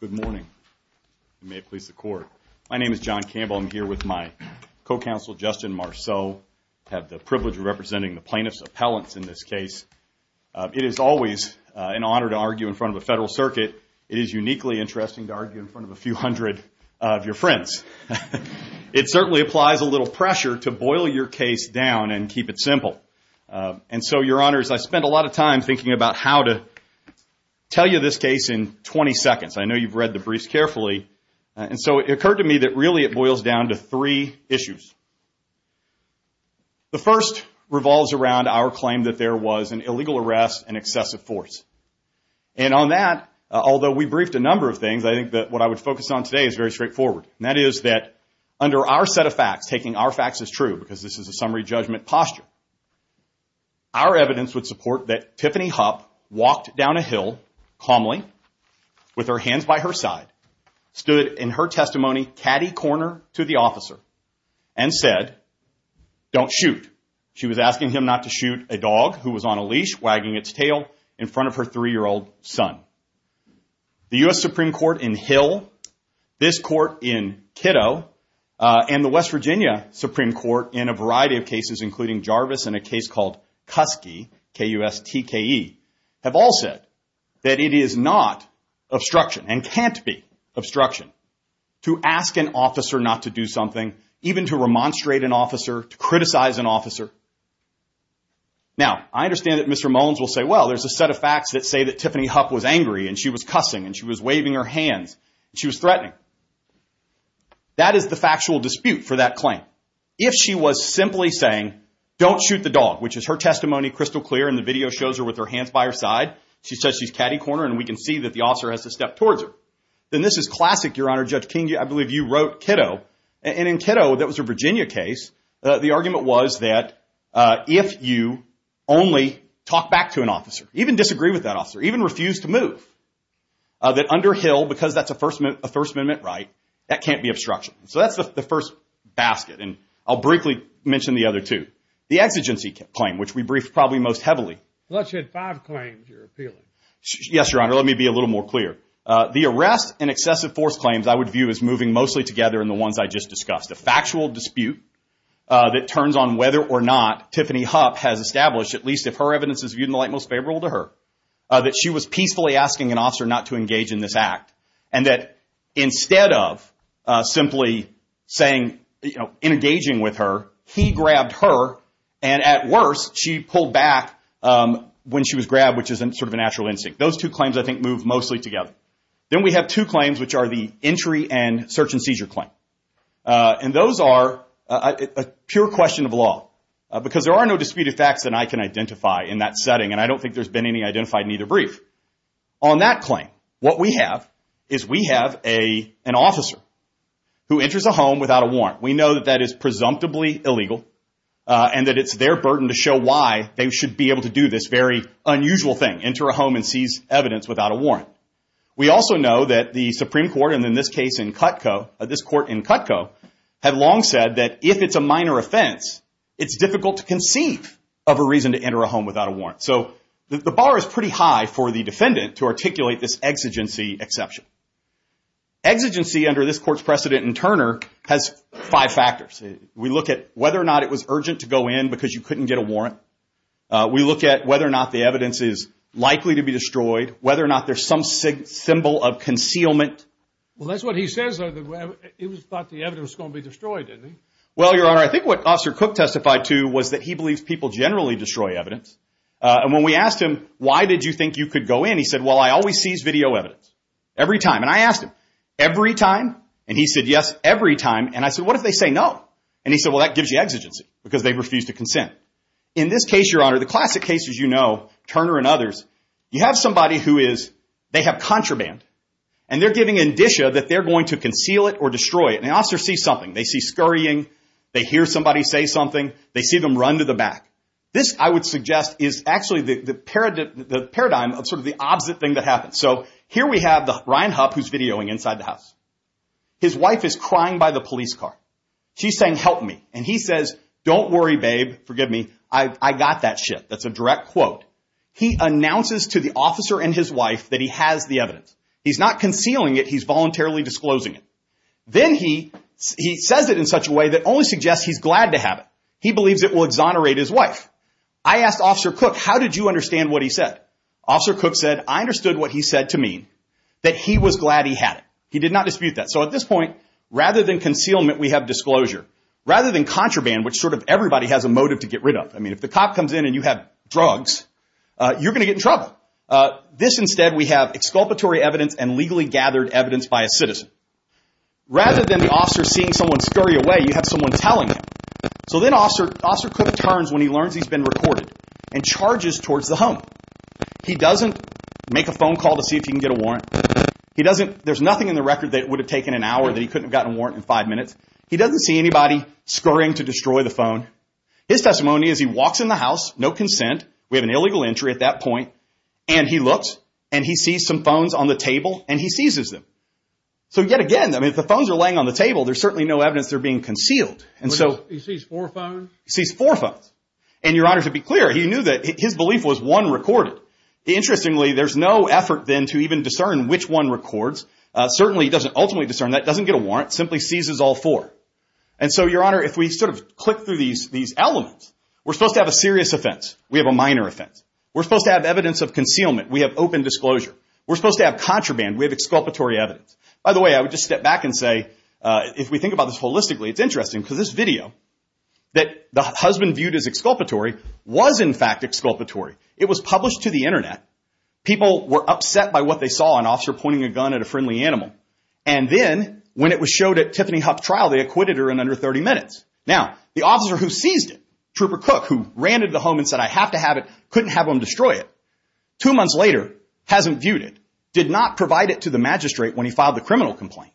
Good morning. May it please the court. My name is John Campbell. I'm here with my co-counsel Justin Marceau. I have the privilege of representing the plaintiff's appellants in this case. It is always an honor to argue in front of a federal circuit. It is uniquely interesting to argue in front of a few hundred of your friends. It certainly applies a little pressure to boil your case down and keep it simple. And so, your honors, I spent a lot of time thinking about how to tell you this case in 20 seconds. I know you've read the briefs carefully. And so it occurred to me that really it boils down to three issues. The first revolves around our claim that there was an illegal arrest and excessive force. And on that, although we briefed a number of things, I think that what I would focus on today is very straightforward. And that is that under our set of facts, taking our facts as true, because this is a summary judgment posture, our evidence would support that Tiffany Hupp walked down a hill calmly with her hands by her side, stood in her testimony catty corner to the officer, and said, don't shoot. She was asking him not to shoot a dog who was on a leash wagging its tail in front of her three-year-old son. The U.S. Supreme Court in Hill, this court in Kiddo, and the West Virginia Supreme Court in a variety of cases, including Jarvis and a case called Kuski, K-U-S-T-K-E, have all said that it is not obstruction and can't be obstruction to ask an officer not to do something, even to remonstrate an officer, to criticize an officer. Now, I understand that Mr. Mullins will say, well, there's a set of facts that say that Tiffany Hupp was angry and she was cussing and she was waving her hands and she was threatening. That is the factual dispute for that claim. If she was simply saying, don't shoot the dog, which is her testimony crystal clear and the video shows her with her hands by her side, she says she's catty corner and we can see that the officer has to step towards her. Then this is classic, Your Honor, Judge King, I believe you wrote Kiddo. And in Kiddo, that was a Virginia case, the argument was that if you only talk back to an officer, even disagree with that officer, even refuse to move, that under Hill, because that's a First Amendment right, that can't be obstruction. So that's the first basket. And I'll briefly mention the other two. The exigency claim, which we briefed probably most heavily. Unless you had five claims you're appealing. Yes, Your Honor. Let me be a little more clear. The arrest and excessive force claims I would view as moving mostly together in the ones I just discussed. The factual dispute that turns on whether or not Tiffany Hupp has established, at least if her evidence is viewed in the light most favorable to her, that she was peacefully asking an officer not to engage in this act. And that instead of simply saying, you know, in engaging with her, he grabbed her, and at worst she pulled back when she was grabbed, which is sort of a natural instinct. Those two claims I think move mostly together. Then we have two claims, which are the entry and search and seizure claim. And those are a pure question of law. Because there are no disputed facts that I can identify in that setting, and I don't think there's been any identified in either brief. On that claim, what we have is we have an officer who enters a home without a warrant. We know that that is presumptively illegal, and that it's their burden to show why they should be able to do this very unusual thing, enter a home and seize evidence without a warrant. We also know that the Supreme Court, and in this case in Cutco, this court in Cutco, had long said that if it's a minor offense, it's difficult to conceive of a reason to enter a home without a warrant. So the bar is pretty high for the defendant to articulate this exigency exception. Exigency under this court's precedent in Turner has five factors. We look at whether or not it was urgent to go in because you couldn't get a warrant. We look at whether or not the evidence is likely to be destroyed, whether or not there's some symbol of concealment. Well, that's what he says, though. He thought the evidence was going to be destroyed, didn't he? Well, Your Honor, I think what Officer Cook testified to was that he believes people generally destroy evidence. And when we asked him, why did you think you could go in, he said, well, I always seize video evidence, every time. And I asked him, every time? And he said, yes, every time. And I said, what if they say no? And he said, well, that gives you exigency because they refused to consent. In this case, Your Honor, the classic case, as you know, Turner and others, you have somebody who is, they have contraband, and they're giving indicia that they're going to conceal it or destroy it. And the officer sees something. They see scurrying. They hear somebody say something. They see them run to the back. This, I would suggest, is actually the paradigm of sort of the opposite thing that happens. So here we have Ryan Hupp, who's videoing inside the house. His wife is crying by the police car. She's saying, help me. And he says, don't worry, babe. Forgive me. I got that shit. That's a direct quote. He announces to the officer and his wife that he has the evidence. He's not concealing it. He's voluntarily disclosing it. Then he says it in such a way that only suggests he's glad to have it. He believes it will exonerate his wife. I asked Officer Cook, how did you understand what he said? Officer Cook said, I understood what he said to mean, that he was glad he had it. He did not dispute that. So at this point, rather than concealment, we have disclosure. Rather than contraband, which sort of everybody has a motive to get rid of. I mean, if the cop comes in and you have drugs, you're going to get in trouble. This, instead, we have exculpatory evidence and legally gathered evidence by a citizen. Rather than the officer seeing someone scurry away, you have someone telling him. So then Officer Cook turns when he learns he's been recorded and charges towards the home. He doesn't make a phone call to see if he can get a warrant. There's nothing in the record that would have taken an hour that he couldn't have gotten a warrant in five minutes. He doesn't see anybody scurrying to destroy the phone. His testimony is he walks in the house, no consent. We have an illegal entry at that point. And he looks and he sees some phones on the table and he seizes them. So yet again, if the phones are laying on the table, there's certainly no evidence they're being concealed. He sees four phones? He sees four phones. And, Your Honor, to be clear, he knew that his belief was one recorded. Interestingly, there's no effort then to even discern which one records. Certainly he doesn't ultimately discern that. Doesn't get a warrant. Simply seizes all four. And so, Your Honor, if we sort of click through these elements, we're supposed to have a serious offense. We have a minor offense. We're supposed to have evidence of concealment. We have open disclosure. We're supposed to have contraband. We have exculpatory evidence. By the way, I would just step back and say, if we think about this holistically, it's interesting. Because this video that the husband viewed as exculpatory was, in fact, exculpatory. It was published to the Internet. People were upset by what they saw, an officer pointing a gun at a friendly animal. And then, when it was showed at Tiffany Huff's trial, they acquitted her in under 30 minutes. Now, the officer who seized it, Trooper Cook, who ran to the home and said, I have to have it, couldn't have him destroy it, two months later, hasn't viewed it, did not provide it to the magistrate when he filed the criminal complaint,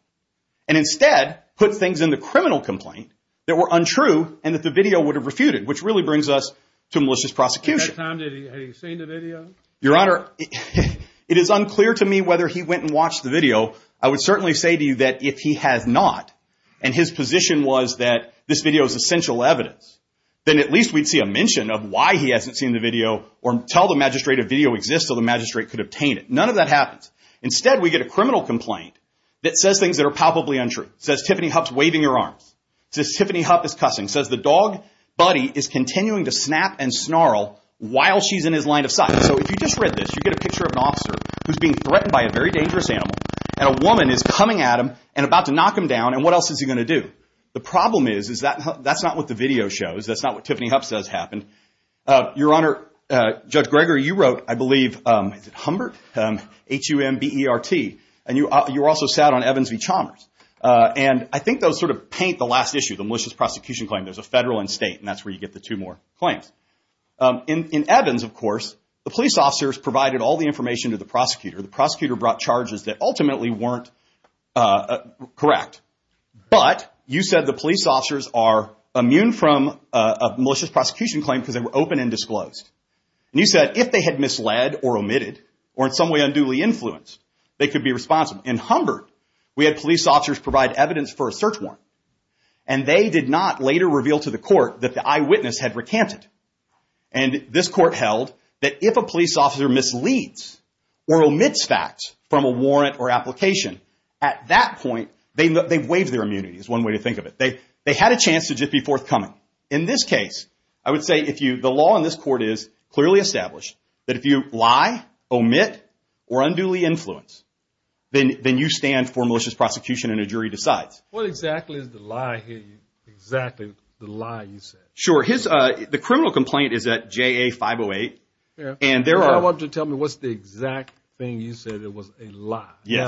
and instead put things in the criminal complaint that were untrue and that the video would have refuted, which really brings us to malicious prosecution. At that time, had he seen the video? Your Honor, it is unclear to me whether he went and watched the video. I would certainly say to you that if he has not, and his position was that this video is essential evidence, then at least we'd see a mention of why he hasn't seen the video or tell the magistrate a video exists so the magistrate could obtain it. None of that happens. Instead, we get a criminal complaint that says things that are palpably untrue. It says Tiffany Huff's waving her arms. It says Tiffany Huff is cussing. It says the dog Buddy is continuing to snap and snarl while she's in his line of sight. So if you just read this, you get a picture of an officer who's being threatened by a very dangerous animal, and a woman is coming at him and about to knock him down, and what else is he going to do? The problem is that that's not what the video shows. That's not what Tiffany Huff says happened. Your Honor, Judge Greger, you wrote, I believe, is it Humbert, H-U-M-B-E-R-T, and you also sat on Evans v. Chalmers. And I think those sort of paint the last issue, the malicious prosecution claim. There's a federal and state, and that's where you get the two more claims. In Evans, of course, the police officers provided all the information to the prosecutor. The prosecutor brought charges that ultimately weren't correct, but you said the police officers are immune from a malicious prosecution claim because they were open and disclosed. And you said if they had misled or omitted or in some way unduly influenced, they could be responsible. In Humbert, we had police officers provide evidence for a search warrant, and they did not later reveal to the court that the eyewitness had recanted. And this court held that if a police officer misleads or omits facts from a warrant or application, at that point they've waived their immunity is one way to think of it. They had a chance to just be forthcoming. In this case, I would say the law in this court is clearly established that if you lie, omit, or unduly influence, then you stand for malicious prosecution and a jury decides. What exactly is the lie here, exactly the lie you said? Sure. The criminal complaint is at JA 508, and there are. I want you to tell me what's the exact thing you said that was a lie. You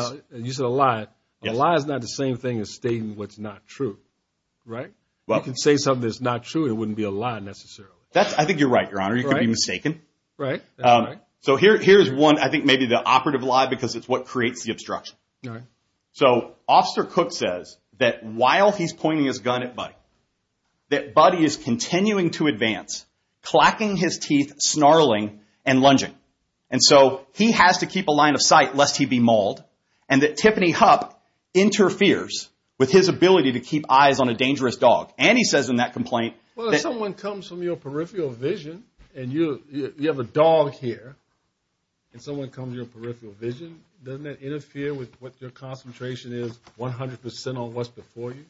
said a lie. A lie is not the same thing as stating what's not true, right? You can say something that's not true, and it wouldn't be a lie necessarily. I think you're right, Your Honor. You could be mistaken. Right. So here's one. I think maybe the operative lie because it's what creates the obstruction. All right. So Officer Cook says that while he's pointing his gun at Buddy, that Buddy is continuing to advance, clacking his teeth, snarling, and lunging. And so he has to keep a line of sight lest he be mauled, and that Tiffany Hupp interferes with his ability to keep eyes on a dangerous dog. And he says in that complaint that- Well, if someone comes from your peripheral vision and you have a dog here and someone comes from your peripheral vision, doesn't that interfere with what your concentration is 100% on what's before you?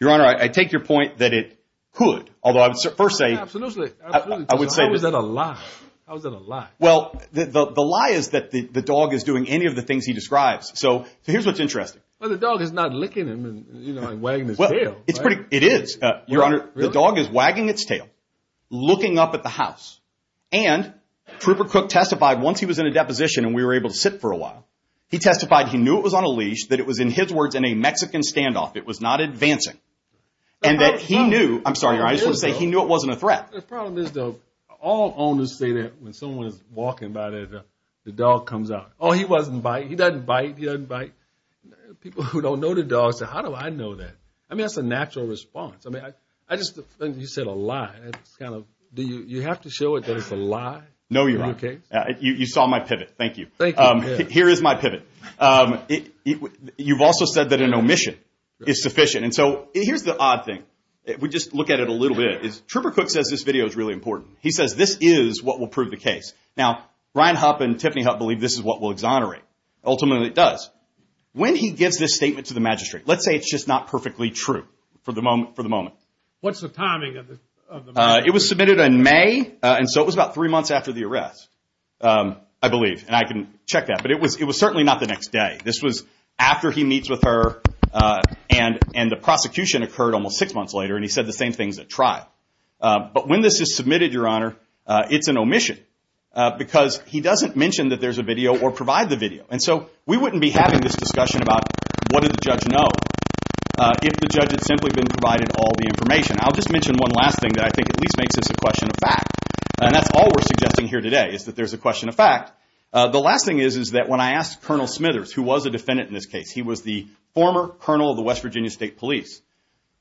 Your Honor, I take your point that it could, although I would first say- Absolutely. I would say- How is that a lie? How is that a lie? Well, the lie is that the dog is doing any of the things he describes. So here's what's interesting. Well, the dog is not licking him and wagging his tail, right? The dog is wagging its tail, looking up at the house. And Trooper Cook testified once he was in a deposition and we were able to sit for a while. He testified he knew it was on a leash, that it was, in his words, in a Mexican standoff. It was not advancing. And that he knew- I'm sorry, Your Honor. I just want to say he knew it wasn't a threat. The problem is, though, all owners say that when someone is walking by, the dog comes out. Oh, he wasn't biting. He doesn't bite. He doesn't bite. People who don't know the dog say, how do I know that? I mean, that's a natural response. I mean, I just think you said a lie. Do you have to show it that it's a lie? No, Your Honor. You saw my pivot. Thank you. Here is my pivot. You've also said that an omission is sufficient. And so here's the odd thing. We just look at it a little bit. Trooper Cook says this video is really important. He says this is what will prove the case. Now, Ryan Hupp and Tiffany Hupp believe this is what will exonerate. Ultimately, it does. When he gives this statement to the magistrate, let's say it's just not perfectly true for the moment. What's the timing of the matter? It was submitted in May, and so it was about three months after the arrest, I believe. And I can check that. But it was certainly not the next day. This was after he meets with her, and the prosecution occurred almost six months later, and he said the same things at trial. But when this is submitted, Your Honor, it's an omission, because he doesn't mention that there's a video or provide the video. And so we wouldn't be having this discussion about what did the judge know if the judge had simply been provided all the information. I'll just mention one last thing that I think at least makes this a question of fact. And that's all we're suggesting here today is that there's a question of fact. The last thing is that when I asked Colonel Smithers, who was a defendant in this case, he was the former colonel of the West Virginia State Police.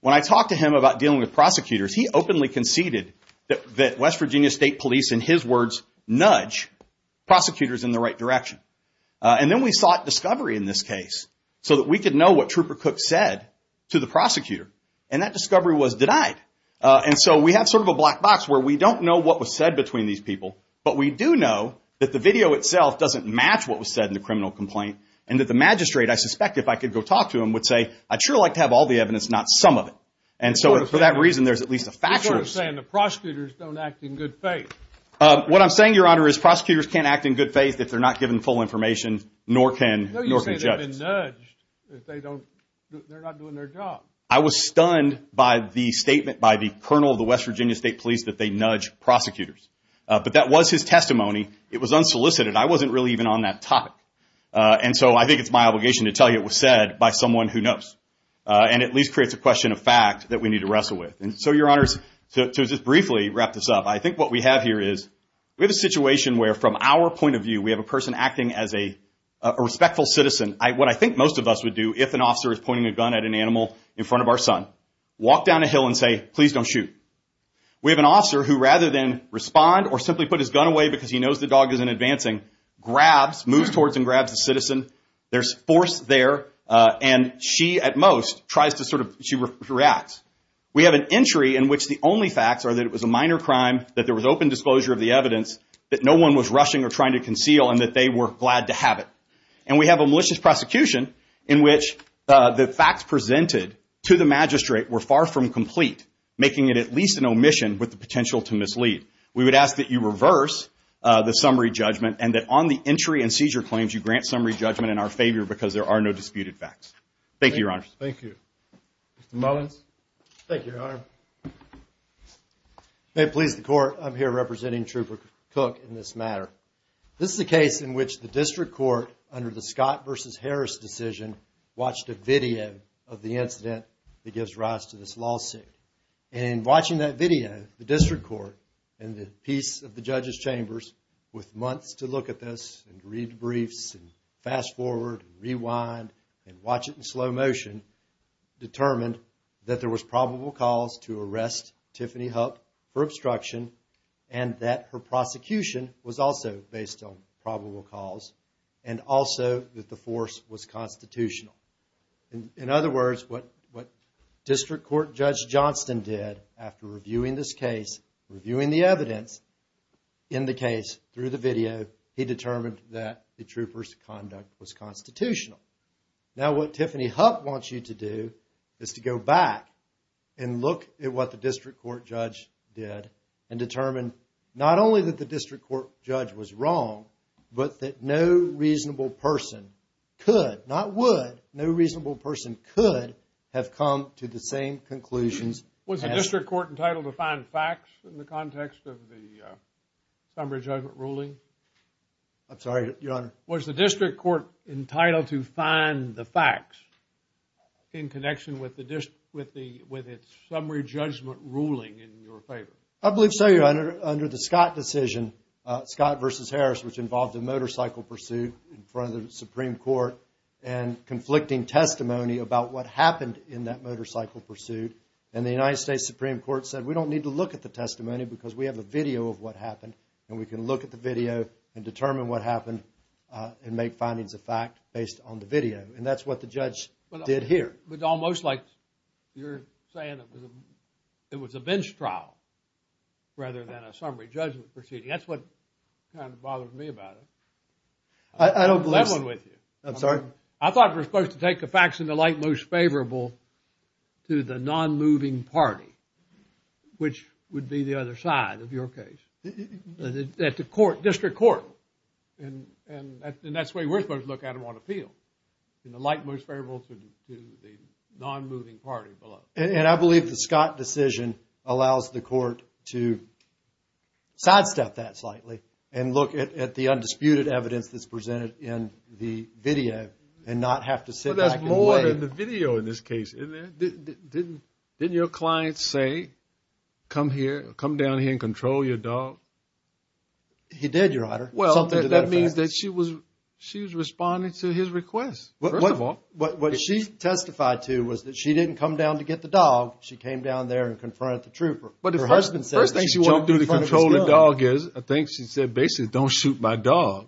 When I talked to him about dealing with prosecutors, he openly conceded that West Virginia State Police, in his words, nudge prosecutors in the right direction. And then we sought discovery in this case, so that we could know what Trooper Cook said to the prosecutor. And that discovery was denied. And so we have sort of a black box where we don't know what was said between these people, but we do know that the video itself doesn't match what was said in the criminal complaint, and that the magistrate, I suspect, if I could go talk to him, would say, I'd sure like to have all the evidence, not some of it. And so for that reason, there's at least a factual. You're sort of saying the prosecutors don't act in good faith. What I'm saying, Your Honor, is prosecutors can't act in good faith if they're not given full information, nor can judges. No, you're saying they've been nudged if they're not doing their job. I was stunned by the statement by the colonel of the West Virginia State Police that they nudge prosecutors. But that was his testimony. It was unsolicited. I wasn't really even on that topic. And so I think it's my obligation to tell you it was said by someone who knows, and at least creates a question of fact that we need to wrestle with. And so, Your Honors, to just briefly wrap this up, I think what we have here is we have a situation where, from our point of view, we have a person acting as a respectful citizen. What I think most of us would do if an officer is pointing a gun at an animal in front of our son, walk down a hill and say, please don't shoot. We have an officer who, rather than respond or simply put his gun away because he knows the dog isn't advancing, grabs, moves towards and grabs the citizen. There's force there. And she, at most, tries to sort of, she reacts. We have an entry in which the only facts are that it was a minor crime, that there was open disclosure of the evidence, that no one was rushing or trying to conceal and that they were glad to have it. And we have a malicious prosecution in which the facts presented to the magistrate were far from complete, making it at least an omission with the potential to mislead. We would ask that you reverse the summary judgment and that on the entry and seizure claims, you grant summary judgment in our favor because there are no disputed facts. Thank you, Your Honors. Thank you. Mr. Mullins. Thank you, Your Honor. If it pleases the court, I'm here representing Trooper Cook in this matter. This is a case in which the district court, under the Scott versus Harris decision, watched a video of the incident that gives rise to this lawsuit. And in watching that video, the district court and the piece of the judge's chambers, with months to look at this and read briefs and fast forward and rewind and watch it in slow motion, determined that there was probable cause to arrest Tiffany Hupp for obstruction and that her prosecution was also based on probable cause and also that the force was constitutional. In other words, what District Court Judge Johnston did after reviewing this case, reviewing the evidence in the case through the video, he determined that the trooper's conduct was constitutional. Now, what Tiffany Hupp wants you to do is to go back and look at what the district court judge did and determine not only that the district court judge was wrong, but that no reasonable person could, not would, no reasonable person could have come to the same conclusions. Was the district court entitled to find facts in the context of the summary judgment ruling? I'm sorry, Your Honor. Was the district court entitled to find the facts in connection with its summary judgment ruling in your favor? I believe so, Your Honor. Under the Scott decision, Scott versus Harris, which involved a motorcycle pursuit in front of the Supreme Court and conflicting testimony about what happened in that motorcycle pursuit. And the United States Supreme Court said, we don't need to look at the testimony because we have a video of what happened and we can look at the video and determine what happened and make findings of fact based on the video. And that's what the judge did here. But it's almost like you're saying it was a bench trial rather than a summary judgment proceeding. That's what kind of bothers me about it. I don't believe so. I left one with you. I'm sorry? I thought we were supposed to take the facts in the light most favorable to the non-moving party, which would be the other side of your case. At the court, district court. And that's the way we're supposed to look at them on appeal. In the light most favorable to the non-moving party below. And I believe the Scott decision allows the court to sidestep that slightly and look at the undisputed evidence that's presented in the video and not have to sit back and wait. But there's more to the video in this case. Didn't your client say, come here, come down here and control your dog? He did, Your Honor. Well, that means that she was responding to his request. First of all. What she testified to was that she didn't come down to get the dog. She came down there and confronted the trooper. The first thing she wanted to do to control the dog is, I think she said, basically, don't shoot my dog.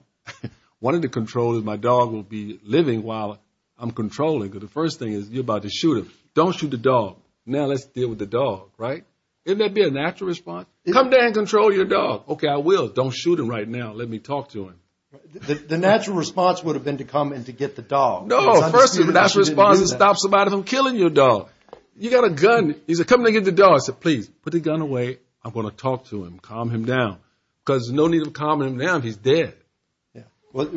One of the controls is my dog will be living while I'm controlling. The first thing is, you're about to shoot him. Don't shoot the dog. Now let's deal with the dog, right? Isn't that be a natural response? Come down and control your dog. Okay, I will. Don't shoot him right now. Let me talk to him. The natural response would have been to come and to get the dog. No, the first natural response is stop somebody from killing your dog. You got a gun. He's coming to get the dog. I said, please, put the gun away. I'm going to talk to him. Calm him down. Because there's no need to calm him down. He's dead. Right?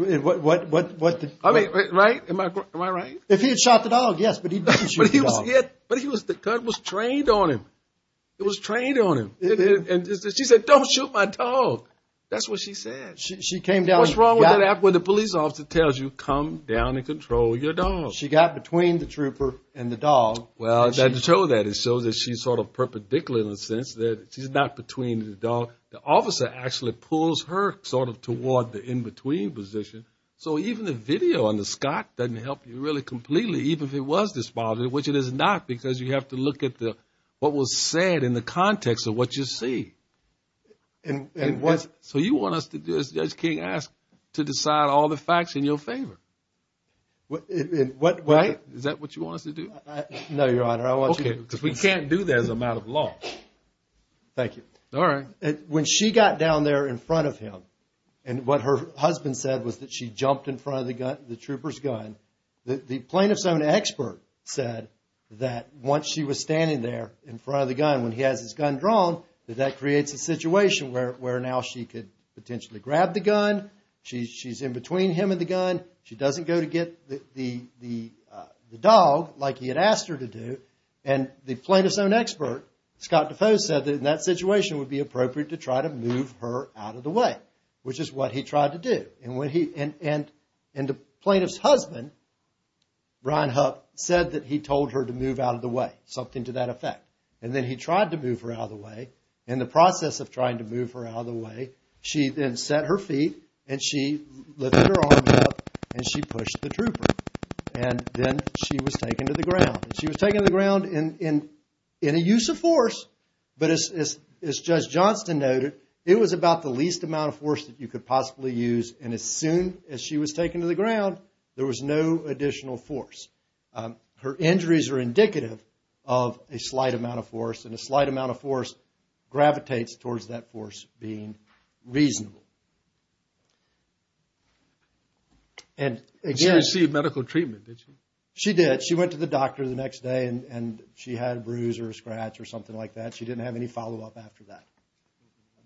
Am I right? If he had shot the dog, yes, but he didn't shoot the dog. But the gun was trained on him. It was trained on him. And she said, don't shoot my dog. That's what she said. What's wrong with that? When the police officer tells you, come down and control your dog. She got between the trooper and the dog. Well, to show that, it shows that she's sort of perpendicular in the sense that she's not between the dog. The officer actually pulls her sort of toward the in-between position. So even the video on the Scott doesn't help you really completely, even if it was disembodied, which it is not, because you have to look at what was said in the context of what you see. So you want us to do, as Judge King asked, to decide all the facts in your favor? Is that what you want us to do? No, Your Honor, I want you to do it. Because we can't do that as a matter of law. Thank you. All right. When she got down there in front of him, and what her husband said was that she jumped in front of the trooper's gun, the plaintiff's own expert said that once she was standing there in front of the gun, when he has his gun drawn, that that creates a situation where now she could potentially grab the gun. She's in between him and the gun. She doesn't go to get the dog like he had asked her to do. And the plaintiff's own expert, Scott Defoe, said that in that situation it would be appropriate to try to move her out of the way, which is what he tried to do. And the plaintiff's husband, Brian Huck, said that he told her to move out of the way, something to that effect. And then he tried to move her out of the way. In the process of trying to move her out of the way, she then set her feet, and she lifted her arms up, And then she was taken to the ground. She was taken to the ground in a use of force. But as Judge Johnston noted, it was about the least amount of force that you could possibly use. And as soon as she was taken to the ground, there was no additional force. Her injuries are indicative of a slight amount of force, and a slight amount of force gravitates towards that force being reasonable. She received medical treatment, didn't she? She did. She went to the doctor the next day, and she had a bruise or a scratch or something like that. She didn't have any follow-up after that.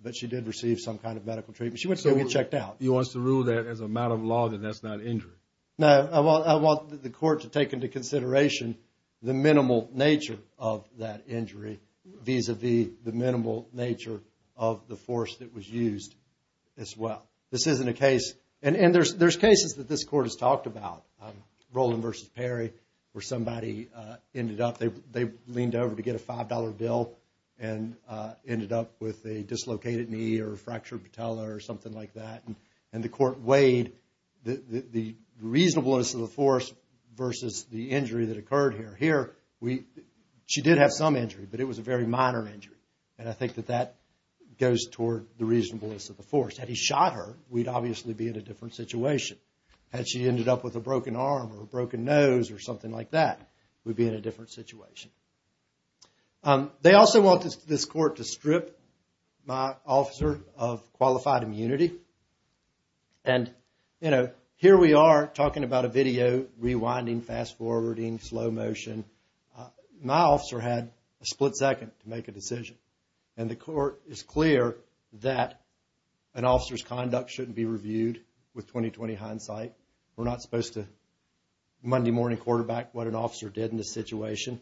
But she did receive some kind of medical treatment. She went to get checked out. You want us to rule that as a matter of law that that's not an injury? No, I want the court to take into consideration the minimal nature of that injury, vis-a-vis the minimal nature of the force that was used as well. This isn't a case, and there's cases that this court has talked about, Rowland v. Perry, where somebody ended up, they leaned over to get a $5 bill and ended up with a dislocated knee or a fractured patella or something like that. And the court weighed the reasonableness of the force versus the injury that occurred here. Here, she did have some injury, but it was a very minor injury. And I think that that goes toward the reasonableness of the force. Had he shot her, we'd obviously be in a different situation. Had she ended up with a broken arm or a broken nose or something like that, we'd be in a different situation. They also want this court to strip my officer of qualified immunity. And, you know, here we are talking about a video, rewinding, fast-forwarding, slow motion. My officer had a split second to make a decision. And the court is clear that an officer's conduct shouldn't be reviewed with 20-20 hindsight. We're not supposed to Monday morning quarterback what an officer did in this situation.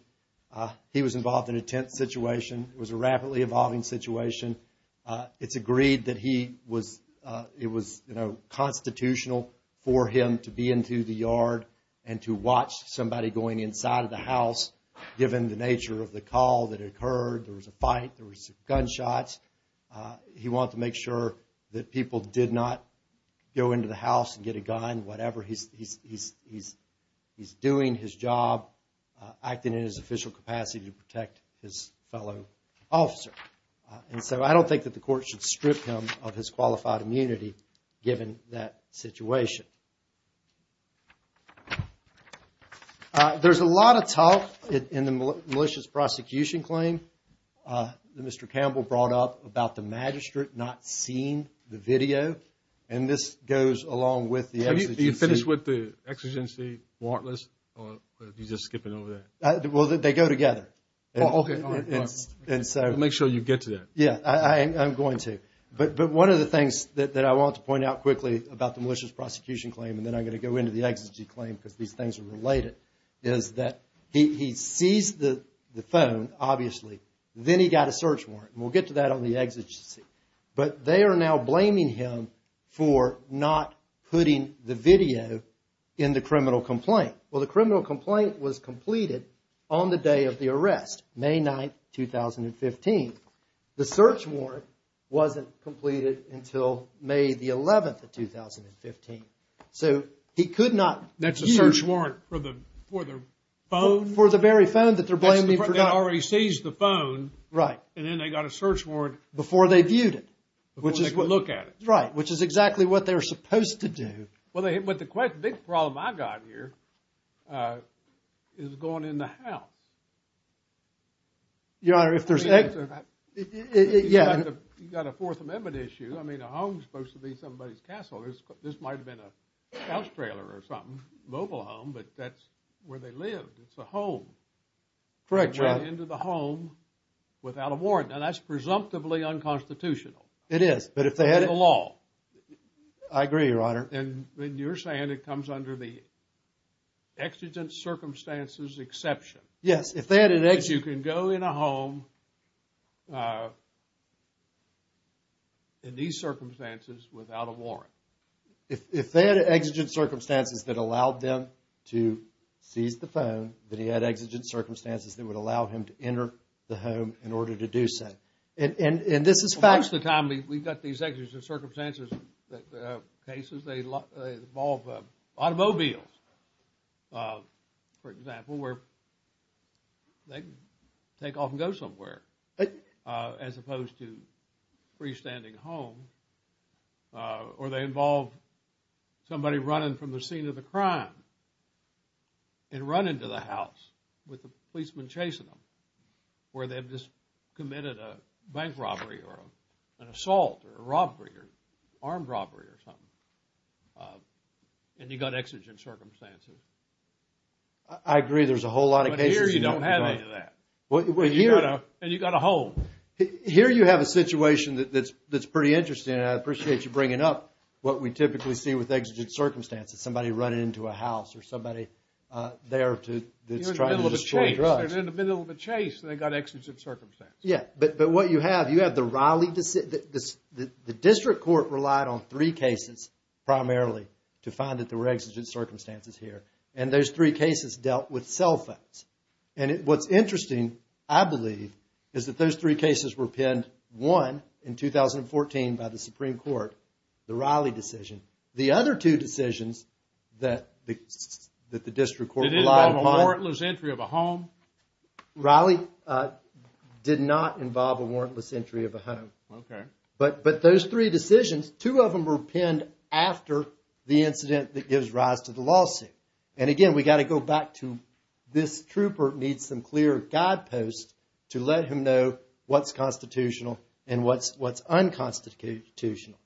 He was involved in a tense situation. It was a rapidly evolving situation. It's agreed that it was constitutional for him to be into the yard and to watch somebody going inside of the house given the nature of the call that occurred. There was a fight, there was gunshots. He wanted to make sure that people did not go into the house and get a gun, whatever. He's doing his job, acting in his official capacity to protect his fellow officer. And so I don't think that the court should strip him of his qualified immunity given that situation. There's a lot of talk in the malicious prosecution claim that Mr. Campbell brought up about the magistrate not seeing the video. And this goes along with the exigency. Have you finished with the exigency warrantless? Or are you just skipping over that? Well, they go together. Oh, okay. We'll make sure you get to that. Yeah, I'm going to. But one of the things that I want to point out quickly about the malicious prosecution claim, and then I'm going to go into the exigency claim because these things are related, is that he sees the phone, obviously. Then he got a search warrant. And we'll get to that on the exigency. But they are now blaming him for not putting the video in the criminal complaint. Well, the criminal complaint was completed on the day of the arrest, May 9, 2015. The search warrant wasn't completed until May 11, 2015. So he could not... That's a search warrant for the phone? For the very phone that they're blaming for not... That already sees the phone. Right. And then they got a search warrant... Before they viewed it. Before they could look at it. Right. Which is exactly what they were supposed to do. But the big problem I've got here is going in the house. Your Honor, if there's... You've got a Fourth Amendment issue. I mean, a home is supposed to be somebody's castle. This might have been a house trailer or something. Mobile home. But that's where they lived. It's a home. Correct, Your Honor. Going into the home without a warrant. Now, that's presumptively unconstitutional. It is. But if they had... In the law. I agree, Your Honor. And you're saying it comes under the exigent circumstances exception. Yes. If they had an ex... If they had exigent circumstances that allowed them to seize the phone, then he had exigent circumstances that would allow him to enter the home in order to do so. And this is fact... Most of the time, we've got these exigent circumstances cases. They involve automobiles, for example, where they take off and go somewhere. As opposed to freestanding home. Or they involve somebody running from the scene of the crime and running to the house with the policeman chasing them where they've just committed a bank robbery or an assault or a robbery or armed robbery or something. And you've got exigent circumstances. I agree. There's a whole lot of cases... But here you don't have any of that. And you've got a home. Here you have a situation that's pretty interesting. And I appreciate you bringing up what we typically see with exigent circumstances. Somebody running into a house or somebody there to... They're in the middle of a chase. They're in the middle of a chase and they've got exigent circumstances. Yeah. But what you have, you have the Raleigh... The district court relied on three cases primarily to find that there were exigent circumstances here. And those three cases dealt with cell phones. And what's interesting, I believe, is that those three cases were penned, one in 2014 by the Supreme Court, the Raleigh decision. The other two decisions that the district court relied upon... Did it involve a warrantless entry of a home? Raleigh did not involve a warrantless entry of a home. Okay. But those three decisions, two of them were penned after the incident that gives rise to the lawsuit. And again, we've got to go back to this trooper needs some clear guideposts to let him know what's constitutional and what's unconstitutional.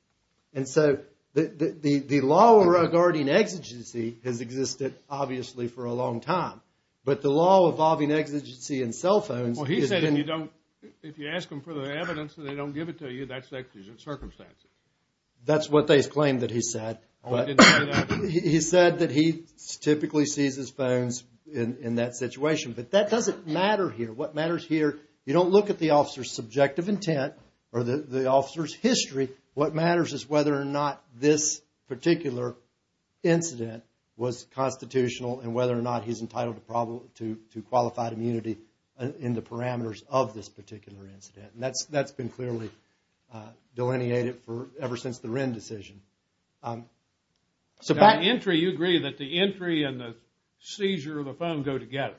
And so the law regarding exigency has existed, obviously, for a long time. But the law involving exigency in cell phones... Well, he said if you ask them for the evidence and they don't give it to you, that's exigent circumstances. That's what they claimed that he said. I didn't say that. He said that he typically sees his phones in that situation. But that doesn't matter here. What matters here, you don't look at the officer's subjective intent or the officer's history. What matters is whether or not this particular incident was constitutional and whether or not he's entitled to qualified immunity in the parameters of this particular incident. And that's been clearly delineated ever since the Wren decision. So by entry, you agree that the entry and the seizure of the phone go together.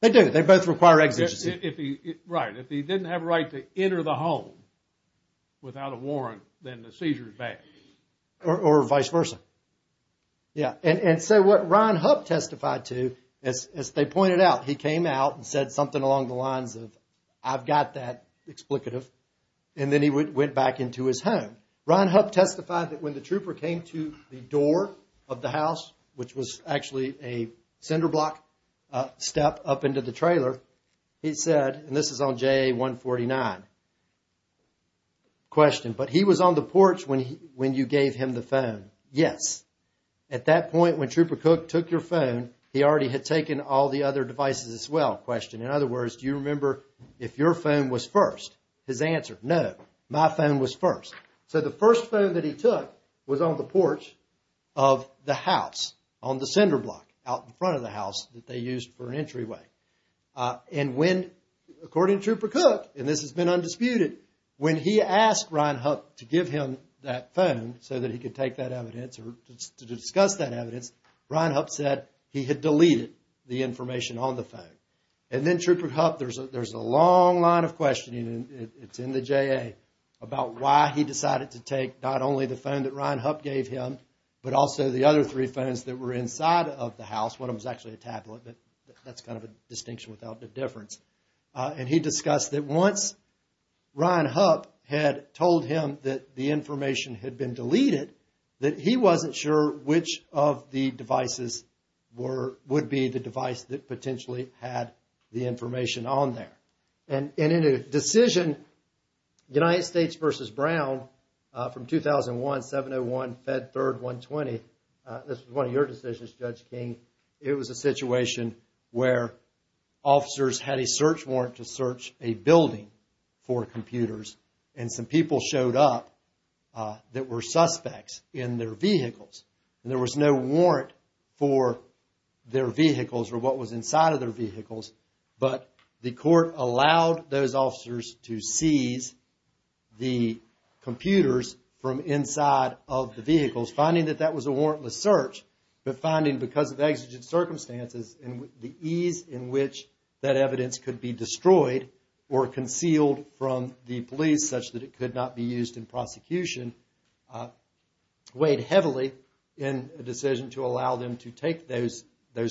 They do. They both require exigency. Right. If he didn't have a right to enter the home without a warrant, then the seizure is back. Or vice versa. Yeah. And so what Ryan Hupp testified to, as they pointed out, he came out and said something along the lines of, I've got that, explicative. And then he went back into his home. Ryan Hupp testified that when the trooper came to the door of the house, which was actually a cinder block step up into the trailer, he said, and this is on JA 149, question, but he was on the porch when you gave him the phone. Yes. At that point, when Trooper Cook took your phone, he already had taken all the other devices as well, question. In other words, do you remember if your phone was first? His answer, no. My phone was first. So the first phone that he took was on the porch of the house on the cinder block out in front of the house that they used for an entryway. And when, according to Trooper Cook, and this has been undisputed, when he asked Ryan Hupp to give him that phone so that he could take that evidence or to discuss that evidence, Ryan Hupp said he had deleted the information on the phone. And then Trooper Hupp, there's a long line of questioning, and it's in the JA, about why he decided to take not only the phone that Ryan Hupp gave him, but also the other three phones that were inside of the house. One of them was actually a tablet, but that's kind of a distinction without a difference. And he discussed that once Ryan Hupp had told him that the information had been deleted, that he wasn't sure which of the devices were, would be the device that potentially had the information on there. And in a decision, United States versus Brown, from 2001, 701, Fed Third, 120, this was one of your decisions, Judge King, it was a situation where officers had a search warrant to search a building for computers, and some people showed up that were suspects in their vehicles. And there was no warrant for their vehicles or what was inside of their vehicles, but the court allowed those officers to seize the computers from inside of the vehicles, finding that that was a warrantless search, but finding because of exigent circumstances, and the ease in which that evidence could be destroyed or concealed from the police, such that it could not be used in prosecution, weighed heavily in a decision to allow them to take those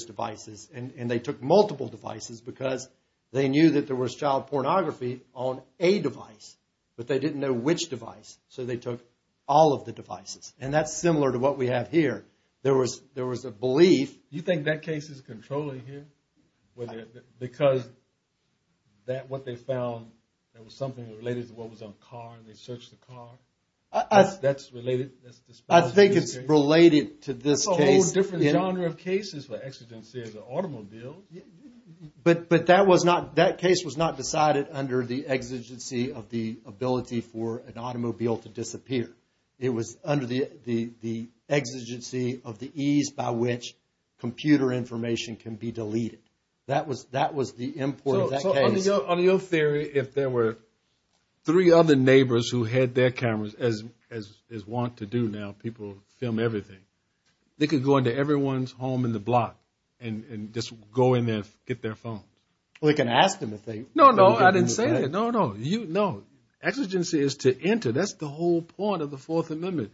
devices. And they took multiple devices because they knew that there was child pornography on a device, but they didn't know which device, so they took all of the devices. And that's similar to what we have here. There was a belief... You think that case is controlling here? Because what they found, it was something related to what was on the car, and they searched the car? That's related? I think it's related to this case. There's a whole different genre of cases where exigency is an automobile. But that case was not decided under the exigency of the ability for an automobile to disappear. It was under the exigency of the ease by which computer information can be deleted. That was the import of that case. So on your theory, if there were three other neighbors who had their cameras, as is want to do now, people film everything, they could go into everyone's home in the block and just go in there and get their phones. Well, they can ask them to think. No, no, I didn't say that. No, no, no. Exigency is to enter. That's the whole point of the Fourth Amendment.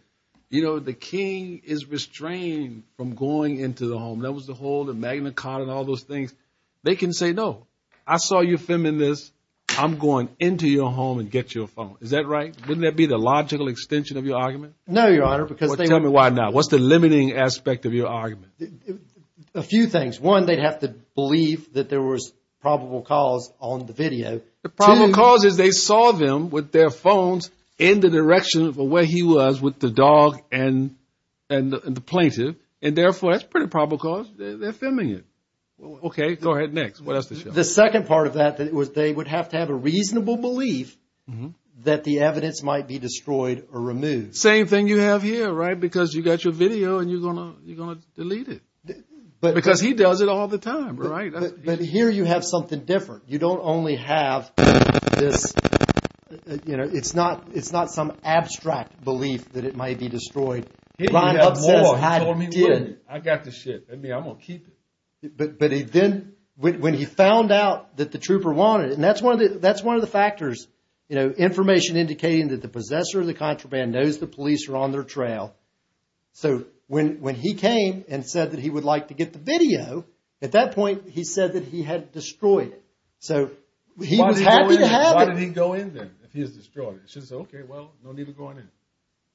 You know, the king is restrained from going into the home. That was the whole, the Magna Carta and all those things. They can say, no, I saw you filming this. I'm going into your home and get you a phone. Is that right? Wouldn't that be the logical extension of your argument? No, Your Honor. Tell me why not. What's the limiting aspect of your argument? A few things. One, they'd have to believe that there was probable cause on the video. The probable cause is they saw them with their phones in the direction of where he was with the dog and the plaintiff. And therefore, that's a pretty probable cause. They're filming it. OK, go ahead next. What else did you have? The second part of that was they would have to have a reasonable belief that the evidence might be destroyed or removed. Same thing you have here, right? Because you got your video and you're going to delete it. Because he does it all the time, right? But here you have something different. You don't only have this, you know, it's not, it's not some abstract belief that it might be destroyed. He told me, I got the shit. I mean, I'm going to keep it. But he then, when he found out that the trooper wanted it, and that's one of the factors, you know, information indicating that the possessor of the contraband knows the police are on their trail. So when he came and said that he would like to get the video, at that point he said that he had it destroyed. So he was happy to have it. Why did he go in then, if he's destroyed? He says, OK, well, no need to go in.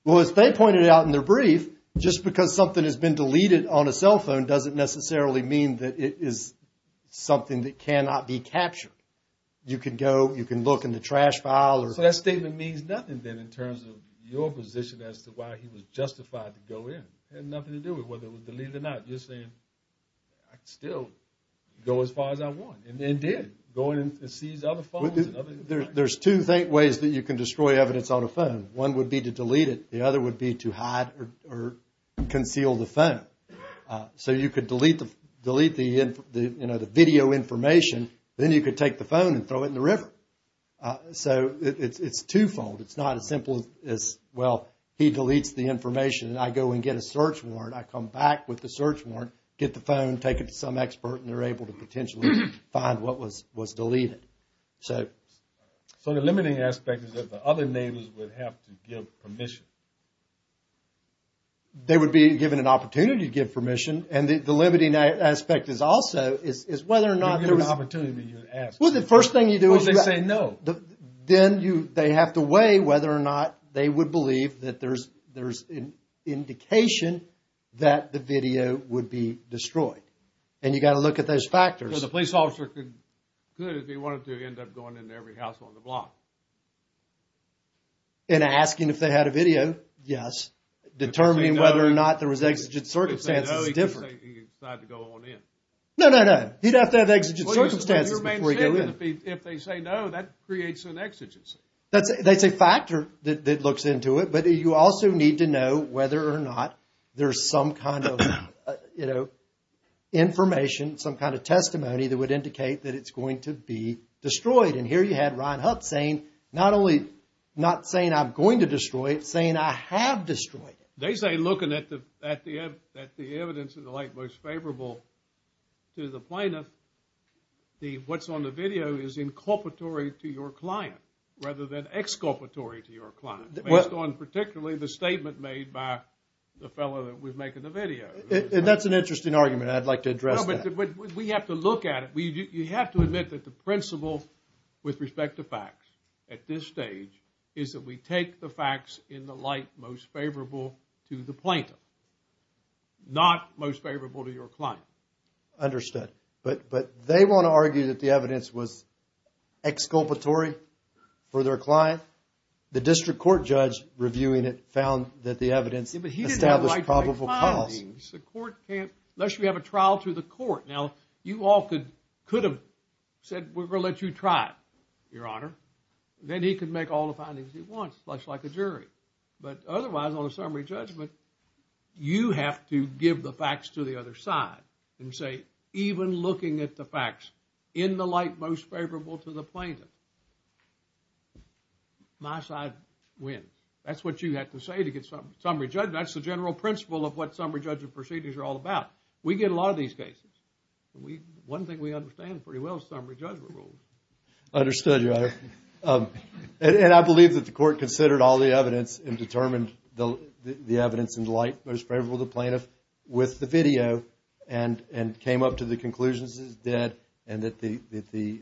Well, as they pointed out in their brief, just because something has been deleted on a cell phone, doesn't necessarily mean that it is something that cannot be captured. You can go, you can look in the trash pile. So that statement means nothing then in terms of your position as to why he was justified to go in. It had nothing to do with whether it was deleted or not. You're saying, I can still go as far as I want. And did. Go in and seize other phones. There's two ways that you can destroy evidence on a phone. One would be to delete it. The other would be to hide or conceal the phone. So you could delete the video information. Then you could take the phone and throw it in the river. So it's twofold. It's not as simple as, well, he deletes the information and I go and get a search warrant. I come back with the search warrant, get the phone, take it to some expert, and they're able to potentially find what was deleted. So the limiting aspect is that the other neighbors would have to give permission. They would be given an opportunity to give permission. And the limiting aspect is also, is whether or not there was. When you get an opportunity, you ask. Well, the first thing you do is. Well, they say no. Then you, they have to weigh whether or not they would believe that there's an indication that the video would be destroyed. And you got to look at those factors. Because the police officer could, if he wanted to, end up going into every house on the block. And asking if they had a video, yes. Determining whether or not there was exigent circumstances is different. He could decide to go on in. No, no, no. He'd have to have exigent circumstances before he'd go in. If they say no, that creates an exigency. That's a factor that looks into it. But you also need to know whether or not there's some kind of, you know, information. Some kind of testimony that would indicate that it's going to be destroyed. And here you had Ryan Huff saying, not only, not saying I'm going to destroy it, saying I have destroyed it. They say looking at the evidence of the like most favorable to the plaintiff. What's on the video is inculpatory to your client. Rather than exculpatory to your client. Based on particularly the statement made by the fellow that was making the video. And that's an interesting argument. I'd like to address that. No, but we have to look at it. You have to admit that the principle with respect to facts at this stage is that we take the facts in the light most favorable to the plaintiff. Not most favorable to your client. Understood. But they want to argue that the evidence was exculpatory for their client. The district court judge reviewing it found that the evidence established probable cause. Unless you have a trial to the court. Now, you all could have said we're going to let you try it, your honor. Then he could make all the findings he wants, much like a jury. But otherwise, on a summary judgment, you have to give the facts to the other side. And say even looking at the facts in the light most favorable to the plaintiff. My side wins. That's what you have to say to get summary judgment. That's the general principle of what summary judgment proceedings are all about. We get a lot of these cases. One thing we understand pretty well is summary judgment rules. Understood, your honor. And I believe that the court considered all the evidence and determined the evidence in the light most favorable to the plaintiff with the video. And came up to the conclusions it did. And that the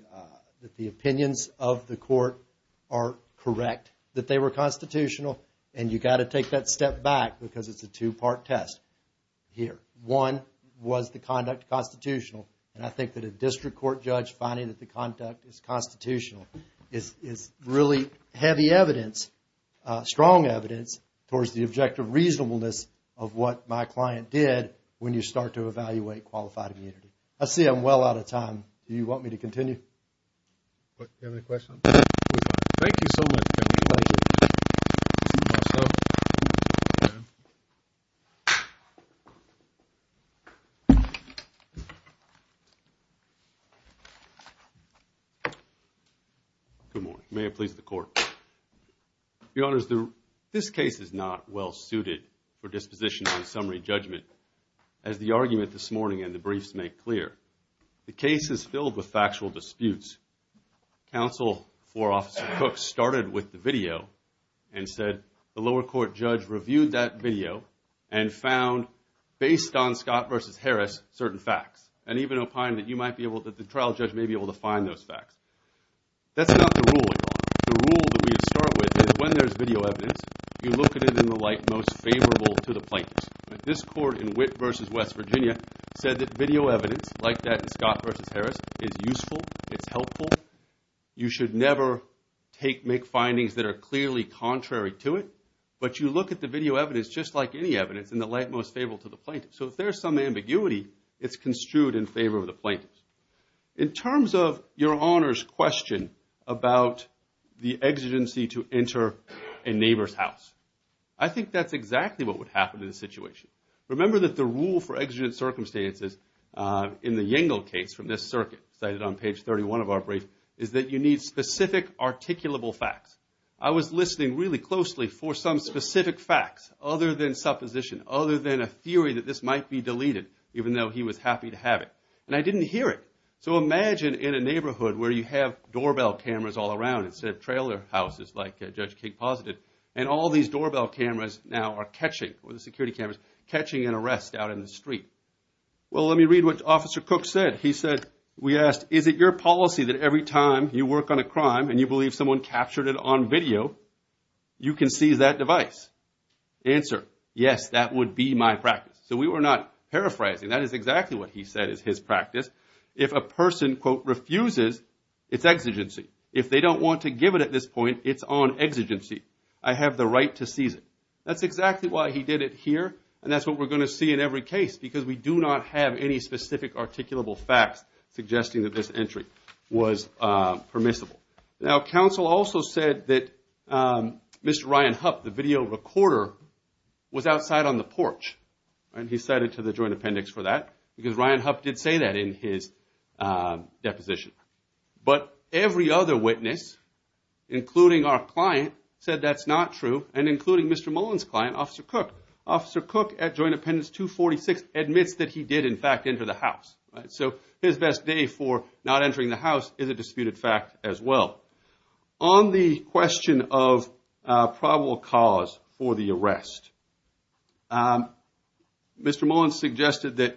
opinions of the court are correct. That they were constitutional. And you've got to take that step back because it's a two-part test here. One was the conduct constitutional. And I think that a district court judge finding that the conduct is constitutional is really heavy evidence, strong evidence, towards the objective reasonableness of what my client did when you start to evaluate qualified immunity. I see I'm well out of time. Do you want me to continue? Do you have any questions? Thank you so much. Good morning. May it please the court. Your honors, this case is not well suited for disposition on summary judgment. As the argument this morning and the briefs make clear. The case is filled with factual disputes. Counsel for Officer Cook started with the video and said, the lower court judge reviewed that video and found, based on Scott versus Harris, certain facts. And even opined that the trial judge may be able to find those facts. That's not the rule. The rule that we start with is when there's video evidence, you look at it in the light most favorable to the plaintiff. This court in Witt versus West Virginia said that video evidence, like that in Scott versus Harris, is useful, it's helpful. You should never make findings that are clearly contrary to it. But you look at the video evidence just like any evidence in the light most favorable to the plaintiff. So if there's some ambiguity, it's construed in favor of the plaintiff. In terms of your honors' question about the exigency to enter a neighbor's house, I think that's exactly what would happen in this situation. Remember that the rule for exigent circumstances in the Yangle case from this circuit, cited on page 31 of our brief, is that you need specific articulable facts. I was listening really closely for some specific facts other than supposition, other than a theory that this might be deleted, even though he was happy to have it. And I didn't hear it. So imagine in a neighborhood where you have doorbell cameras all around instead of trailer houses like Judge King posited, and all these doorbell cameras now are catching, or the security cameras, catching an arrest out in the street. Well, let me read what Officer Cook said. He said, we asked, is it your policy that every time you work on a crime and you believe someone captured it on video, you can seize that device? Answer, yes, that would be my practice. So we were not paraphrasing. That is exactly what he said is his practice. If a person, quote, refuses, it's exigency. If they don't want to give it at this point, it's on exigency. I have the right to seize it. That's exactly why he did it here, and that's what we're going to see in every case, because we do not have any specific articulable facts suggesting that this entry was permissible. Now, counsel also said that Mr. Ryan Hupp, the video recorder, was outside on the porch, and he cited to the joint appendix for that, because Ryan Hupp did say that in his deposition. But every other witness, including our client, said that's not true, and including Mr. Mullen's client, Officer Cook. Officer Cook, at Joint Appendix 246, admits that he did, in fact, enter the house. So his best day for not entering the house is a disputed fact as well. On the question of probable cause for the arrest, Mr. Mullen suggested that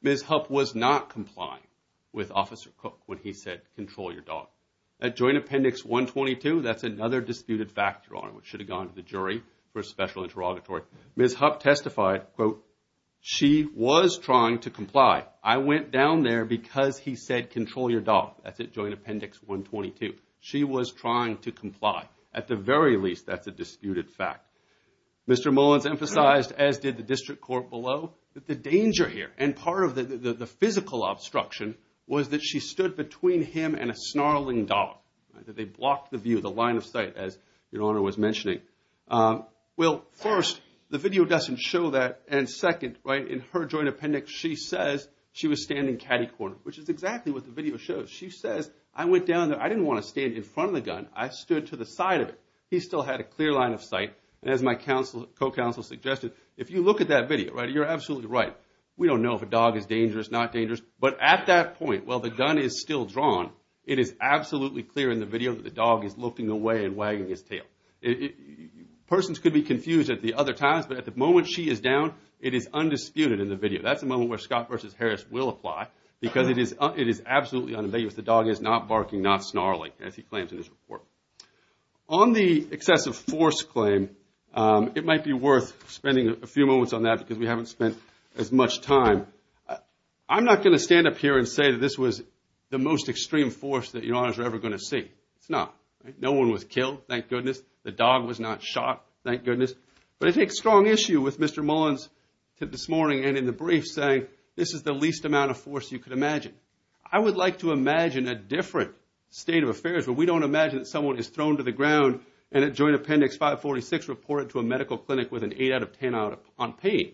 Ms. Hupp was not complying with Officer Cook when he said, control your dog. At Joint Appendix 122, that's another disputed fact, Your Honor, which should have gone to the jury for a special interrogatory. Ms. Hupp testified, quote, she was trying to comply. I went down there because he said, control your dog. That's at Joint Appendix 122. She was trying to comply. At the very least, that's a disputed fact. Mr. Mullen has emphasized, as did the district court below, that the danger here, and part of the physical obstruction, was that she stood between him and a snarling dog, that they blocked the view, the line of sight, as Your Honor was mentioning. Well, first, the video doesn't show that. And second, in her joint appendix, she says she was standing catty-corner, which is exactly what the video shows. She says, I went down there. I didn't want to stand in front of the gun. I stood to the side of it. He still had a clear line of sight, and as my co-counsel suggested, if you look at that video, you're absolutely right. We don't know if a dog is dangerous, not dangerous. But at that point, while the gun is still drawn, it is absolutely clear in the video that the dog is looking away and wagging his tail. Persons could be confused at the other times, but at the moment she is down, it is undisputed in the video. That's the moment where Scott v. Harris will apply, because it is absolutely unambiguous. The dog is not barking, not snarling, as he claims in his report. On the excessive force claim, it might be worth spending a few moments on that because we haven't spent as much time. I'm not going to stand up here and say that this was the most extreme force that you're ever going to see. It's not. No one was killed, thank goodness. The dog was not shot, thank goodness. But it takes strong issue with Mr. Mullen's tip this morning and in the brief saying, I would like to imagine a different state of affairs, where we don't imagine that someone is thrown to the ground and at Joint Appendix 546 reported to a medical clinic with an 8 out of 10 on pain.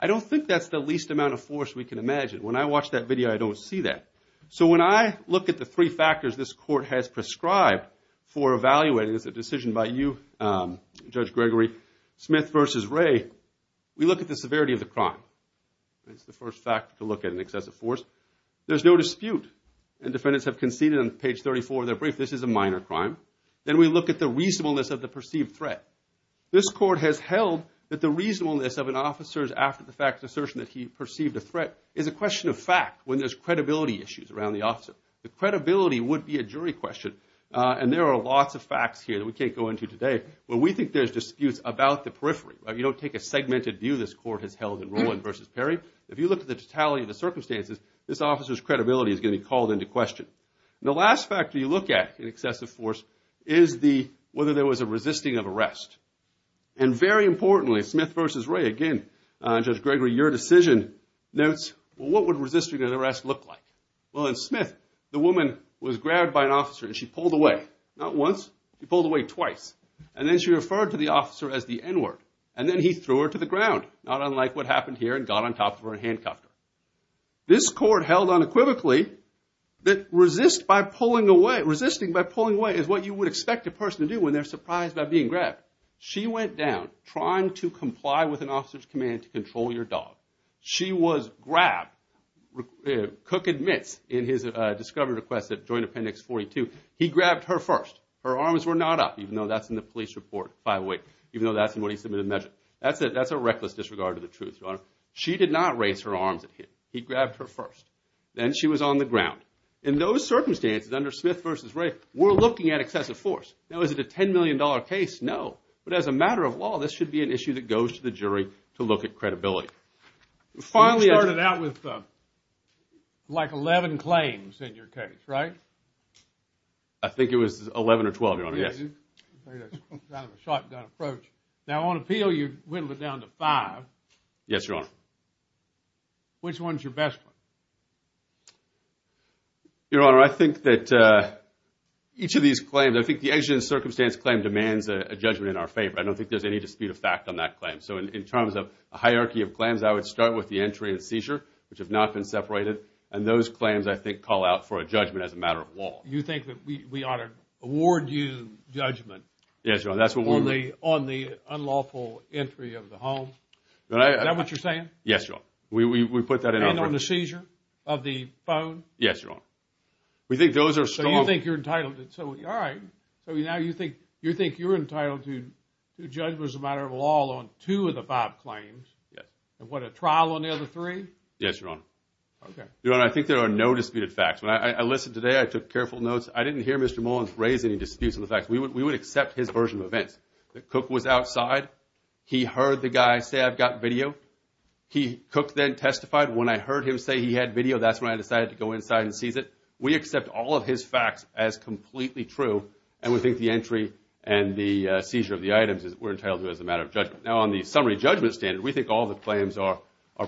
I don't think that's the least amount of force we can imagine. When I watch that video, I don't see that. So when I look at the three factors this court has prescribed for evaluating as a decision by you, Judge Gregory, Smith v. Ray, we look at the severity of the crime. It's the first factor to look at in excessive force. There's no dispute. And defendants have conceded on page 34 of their brief. This is a minor crime. Then we look at the reasonableness of the perceived threat. This court has held that the reasonableness of an officer's after-the-fact assertion that he perceived a threat is a question of fact when there's credibility issues around the officer. The credibility would be a jury question. And there are lots of facts here that we can't go into today. But we think there's disputes about the periphery. You don't take a segmented view this court has held in Rowland v. Perry. If you look at the totality of the circumstances, this officer's credibility is going to be called into question. The last factor you look at in excessive force is whether there was a resisting of arrest. And very importantly, Smith v. Ray, again, Judge Gregory, your decision notes what would resisting an arrest look like? Well, in Smith, the woman was grabbed by an officer and she pulled away. Not once, she pulled away twice. And then she referred to the officer as the N-word. And then he threw her to the ground, not unlike what happened here and got on top of her and handcuffed her. This court held unequivocally that resisting by pulling away is what you would expect a person to do when they're surprised by being grabbed. She went down trying to comply with an officer's command to control your dog. She was grabbed. Cook admits in his discovery request at Joint Appendix 42, he grabbed her first. Her arms were not up, even though that's in the police report, by the way, even though that's in what he submitted in the measure. That's a reckless disregard of the truth, Your Honor. She did not raise her arms at him. He grabbed her first. Then she was on the ground. In those circumstances, under Smith v. Ray, we're looking at excessive force. Now, is it a $10 million case? No. But as a matter of law, this should be an issue that goes to the jury to look at credibility. You started out with like 11 claims in your case, right? I think it was 11 or 12, Your Honor. Yes. Kind of a shotgun approach. Now, on appeal, you whittled it down to five. Yes, Your Honor. Which one is your best one? Your Honor, I think that each of these claims, I think the exigent circumstance claim demands a judgment in our favor. I don't think there's any dispute of fact on that claim. So in terms of a hierarchy of claims, I would start with the entry and seizure, which have not been separated. And those claims, I think, call out for a judgment as a matter of law. You think that we ought to award you judgment on the unlawful entry of the home? Is that what you're saying? Yes, Your Honor. And on the seizure of the phone? Yes, Your Honor. So you think you're entitled to two judgments as a matter of law on two of the five claims? Yes. And what, a trial on the other three? Yes, Your Honor. Okay. Your Honor, I think there are no disputed facts. When I listened today, I took careful notes. I didn't hear Mr. Mullins raise any disputes on the facts. We would accept his version of events. The cook was outside. He heard the guy say, I've got video. The cook then testified. When I heard him say he had video, that's when I decided to go inside and seize it. We accept all of his facts as completely true, and we think the entry and the seizure of the items we're entitled to as a matter of judgment. Now, on the summary judgment standard, we think all the claims are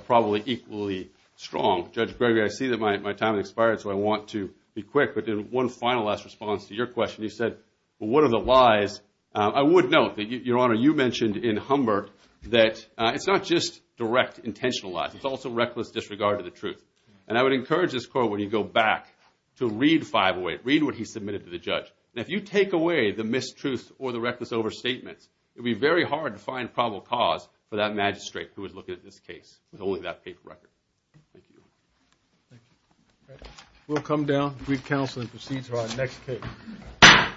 probably equally strong. Judge Gregory, I see that my time has expired, so I want to be quick, but in one final last response to your question, you said, well, what are the lies? I would note that, Your Honor, you mentioned in Humber that it's not just direct intentional lies. It's also reckless disregard of the truth. And I would encourage this court, when you go back, to read 508. Read what he submitted to the judge. Now, if you take away the mistruth or the reckless overstatement, it would be very hard to find probable cause for that magistrate who was looking at this case, with only that paper record. Thank you. Thank you. All right. We'll come down to brief counsel and proceed to our next case.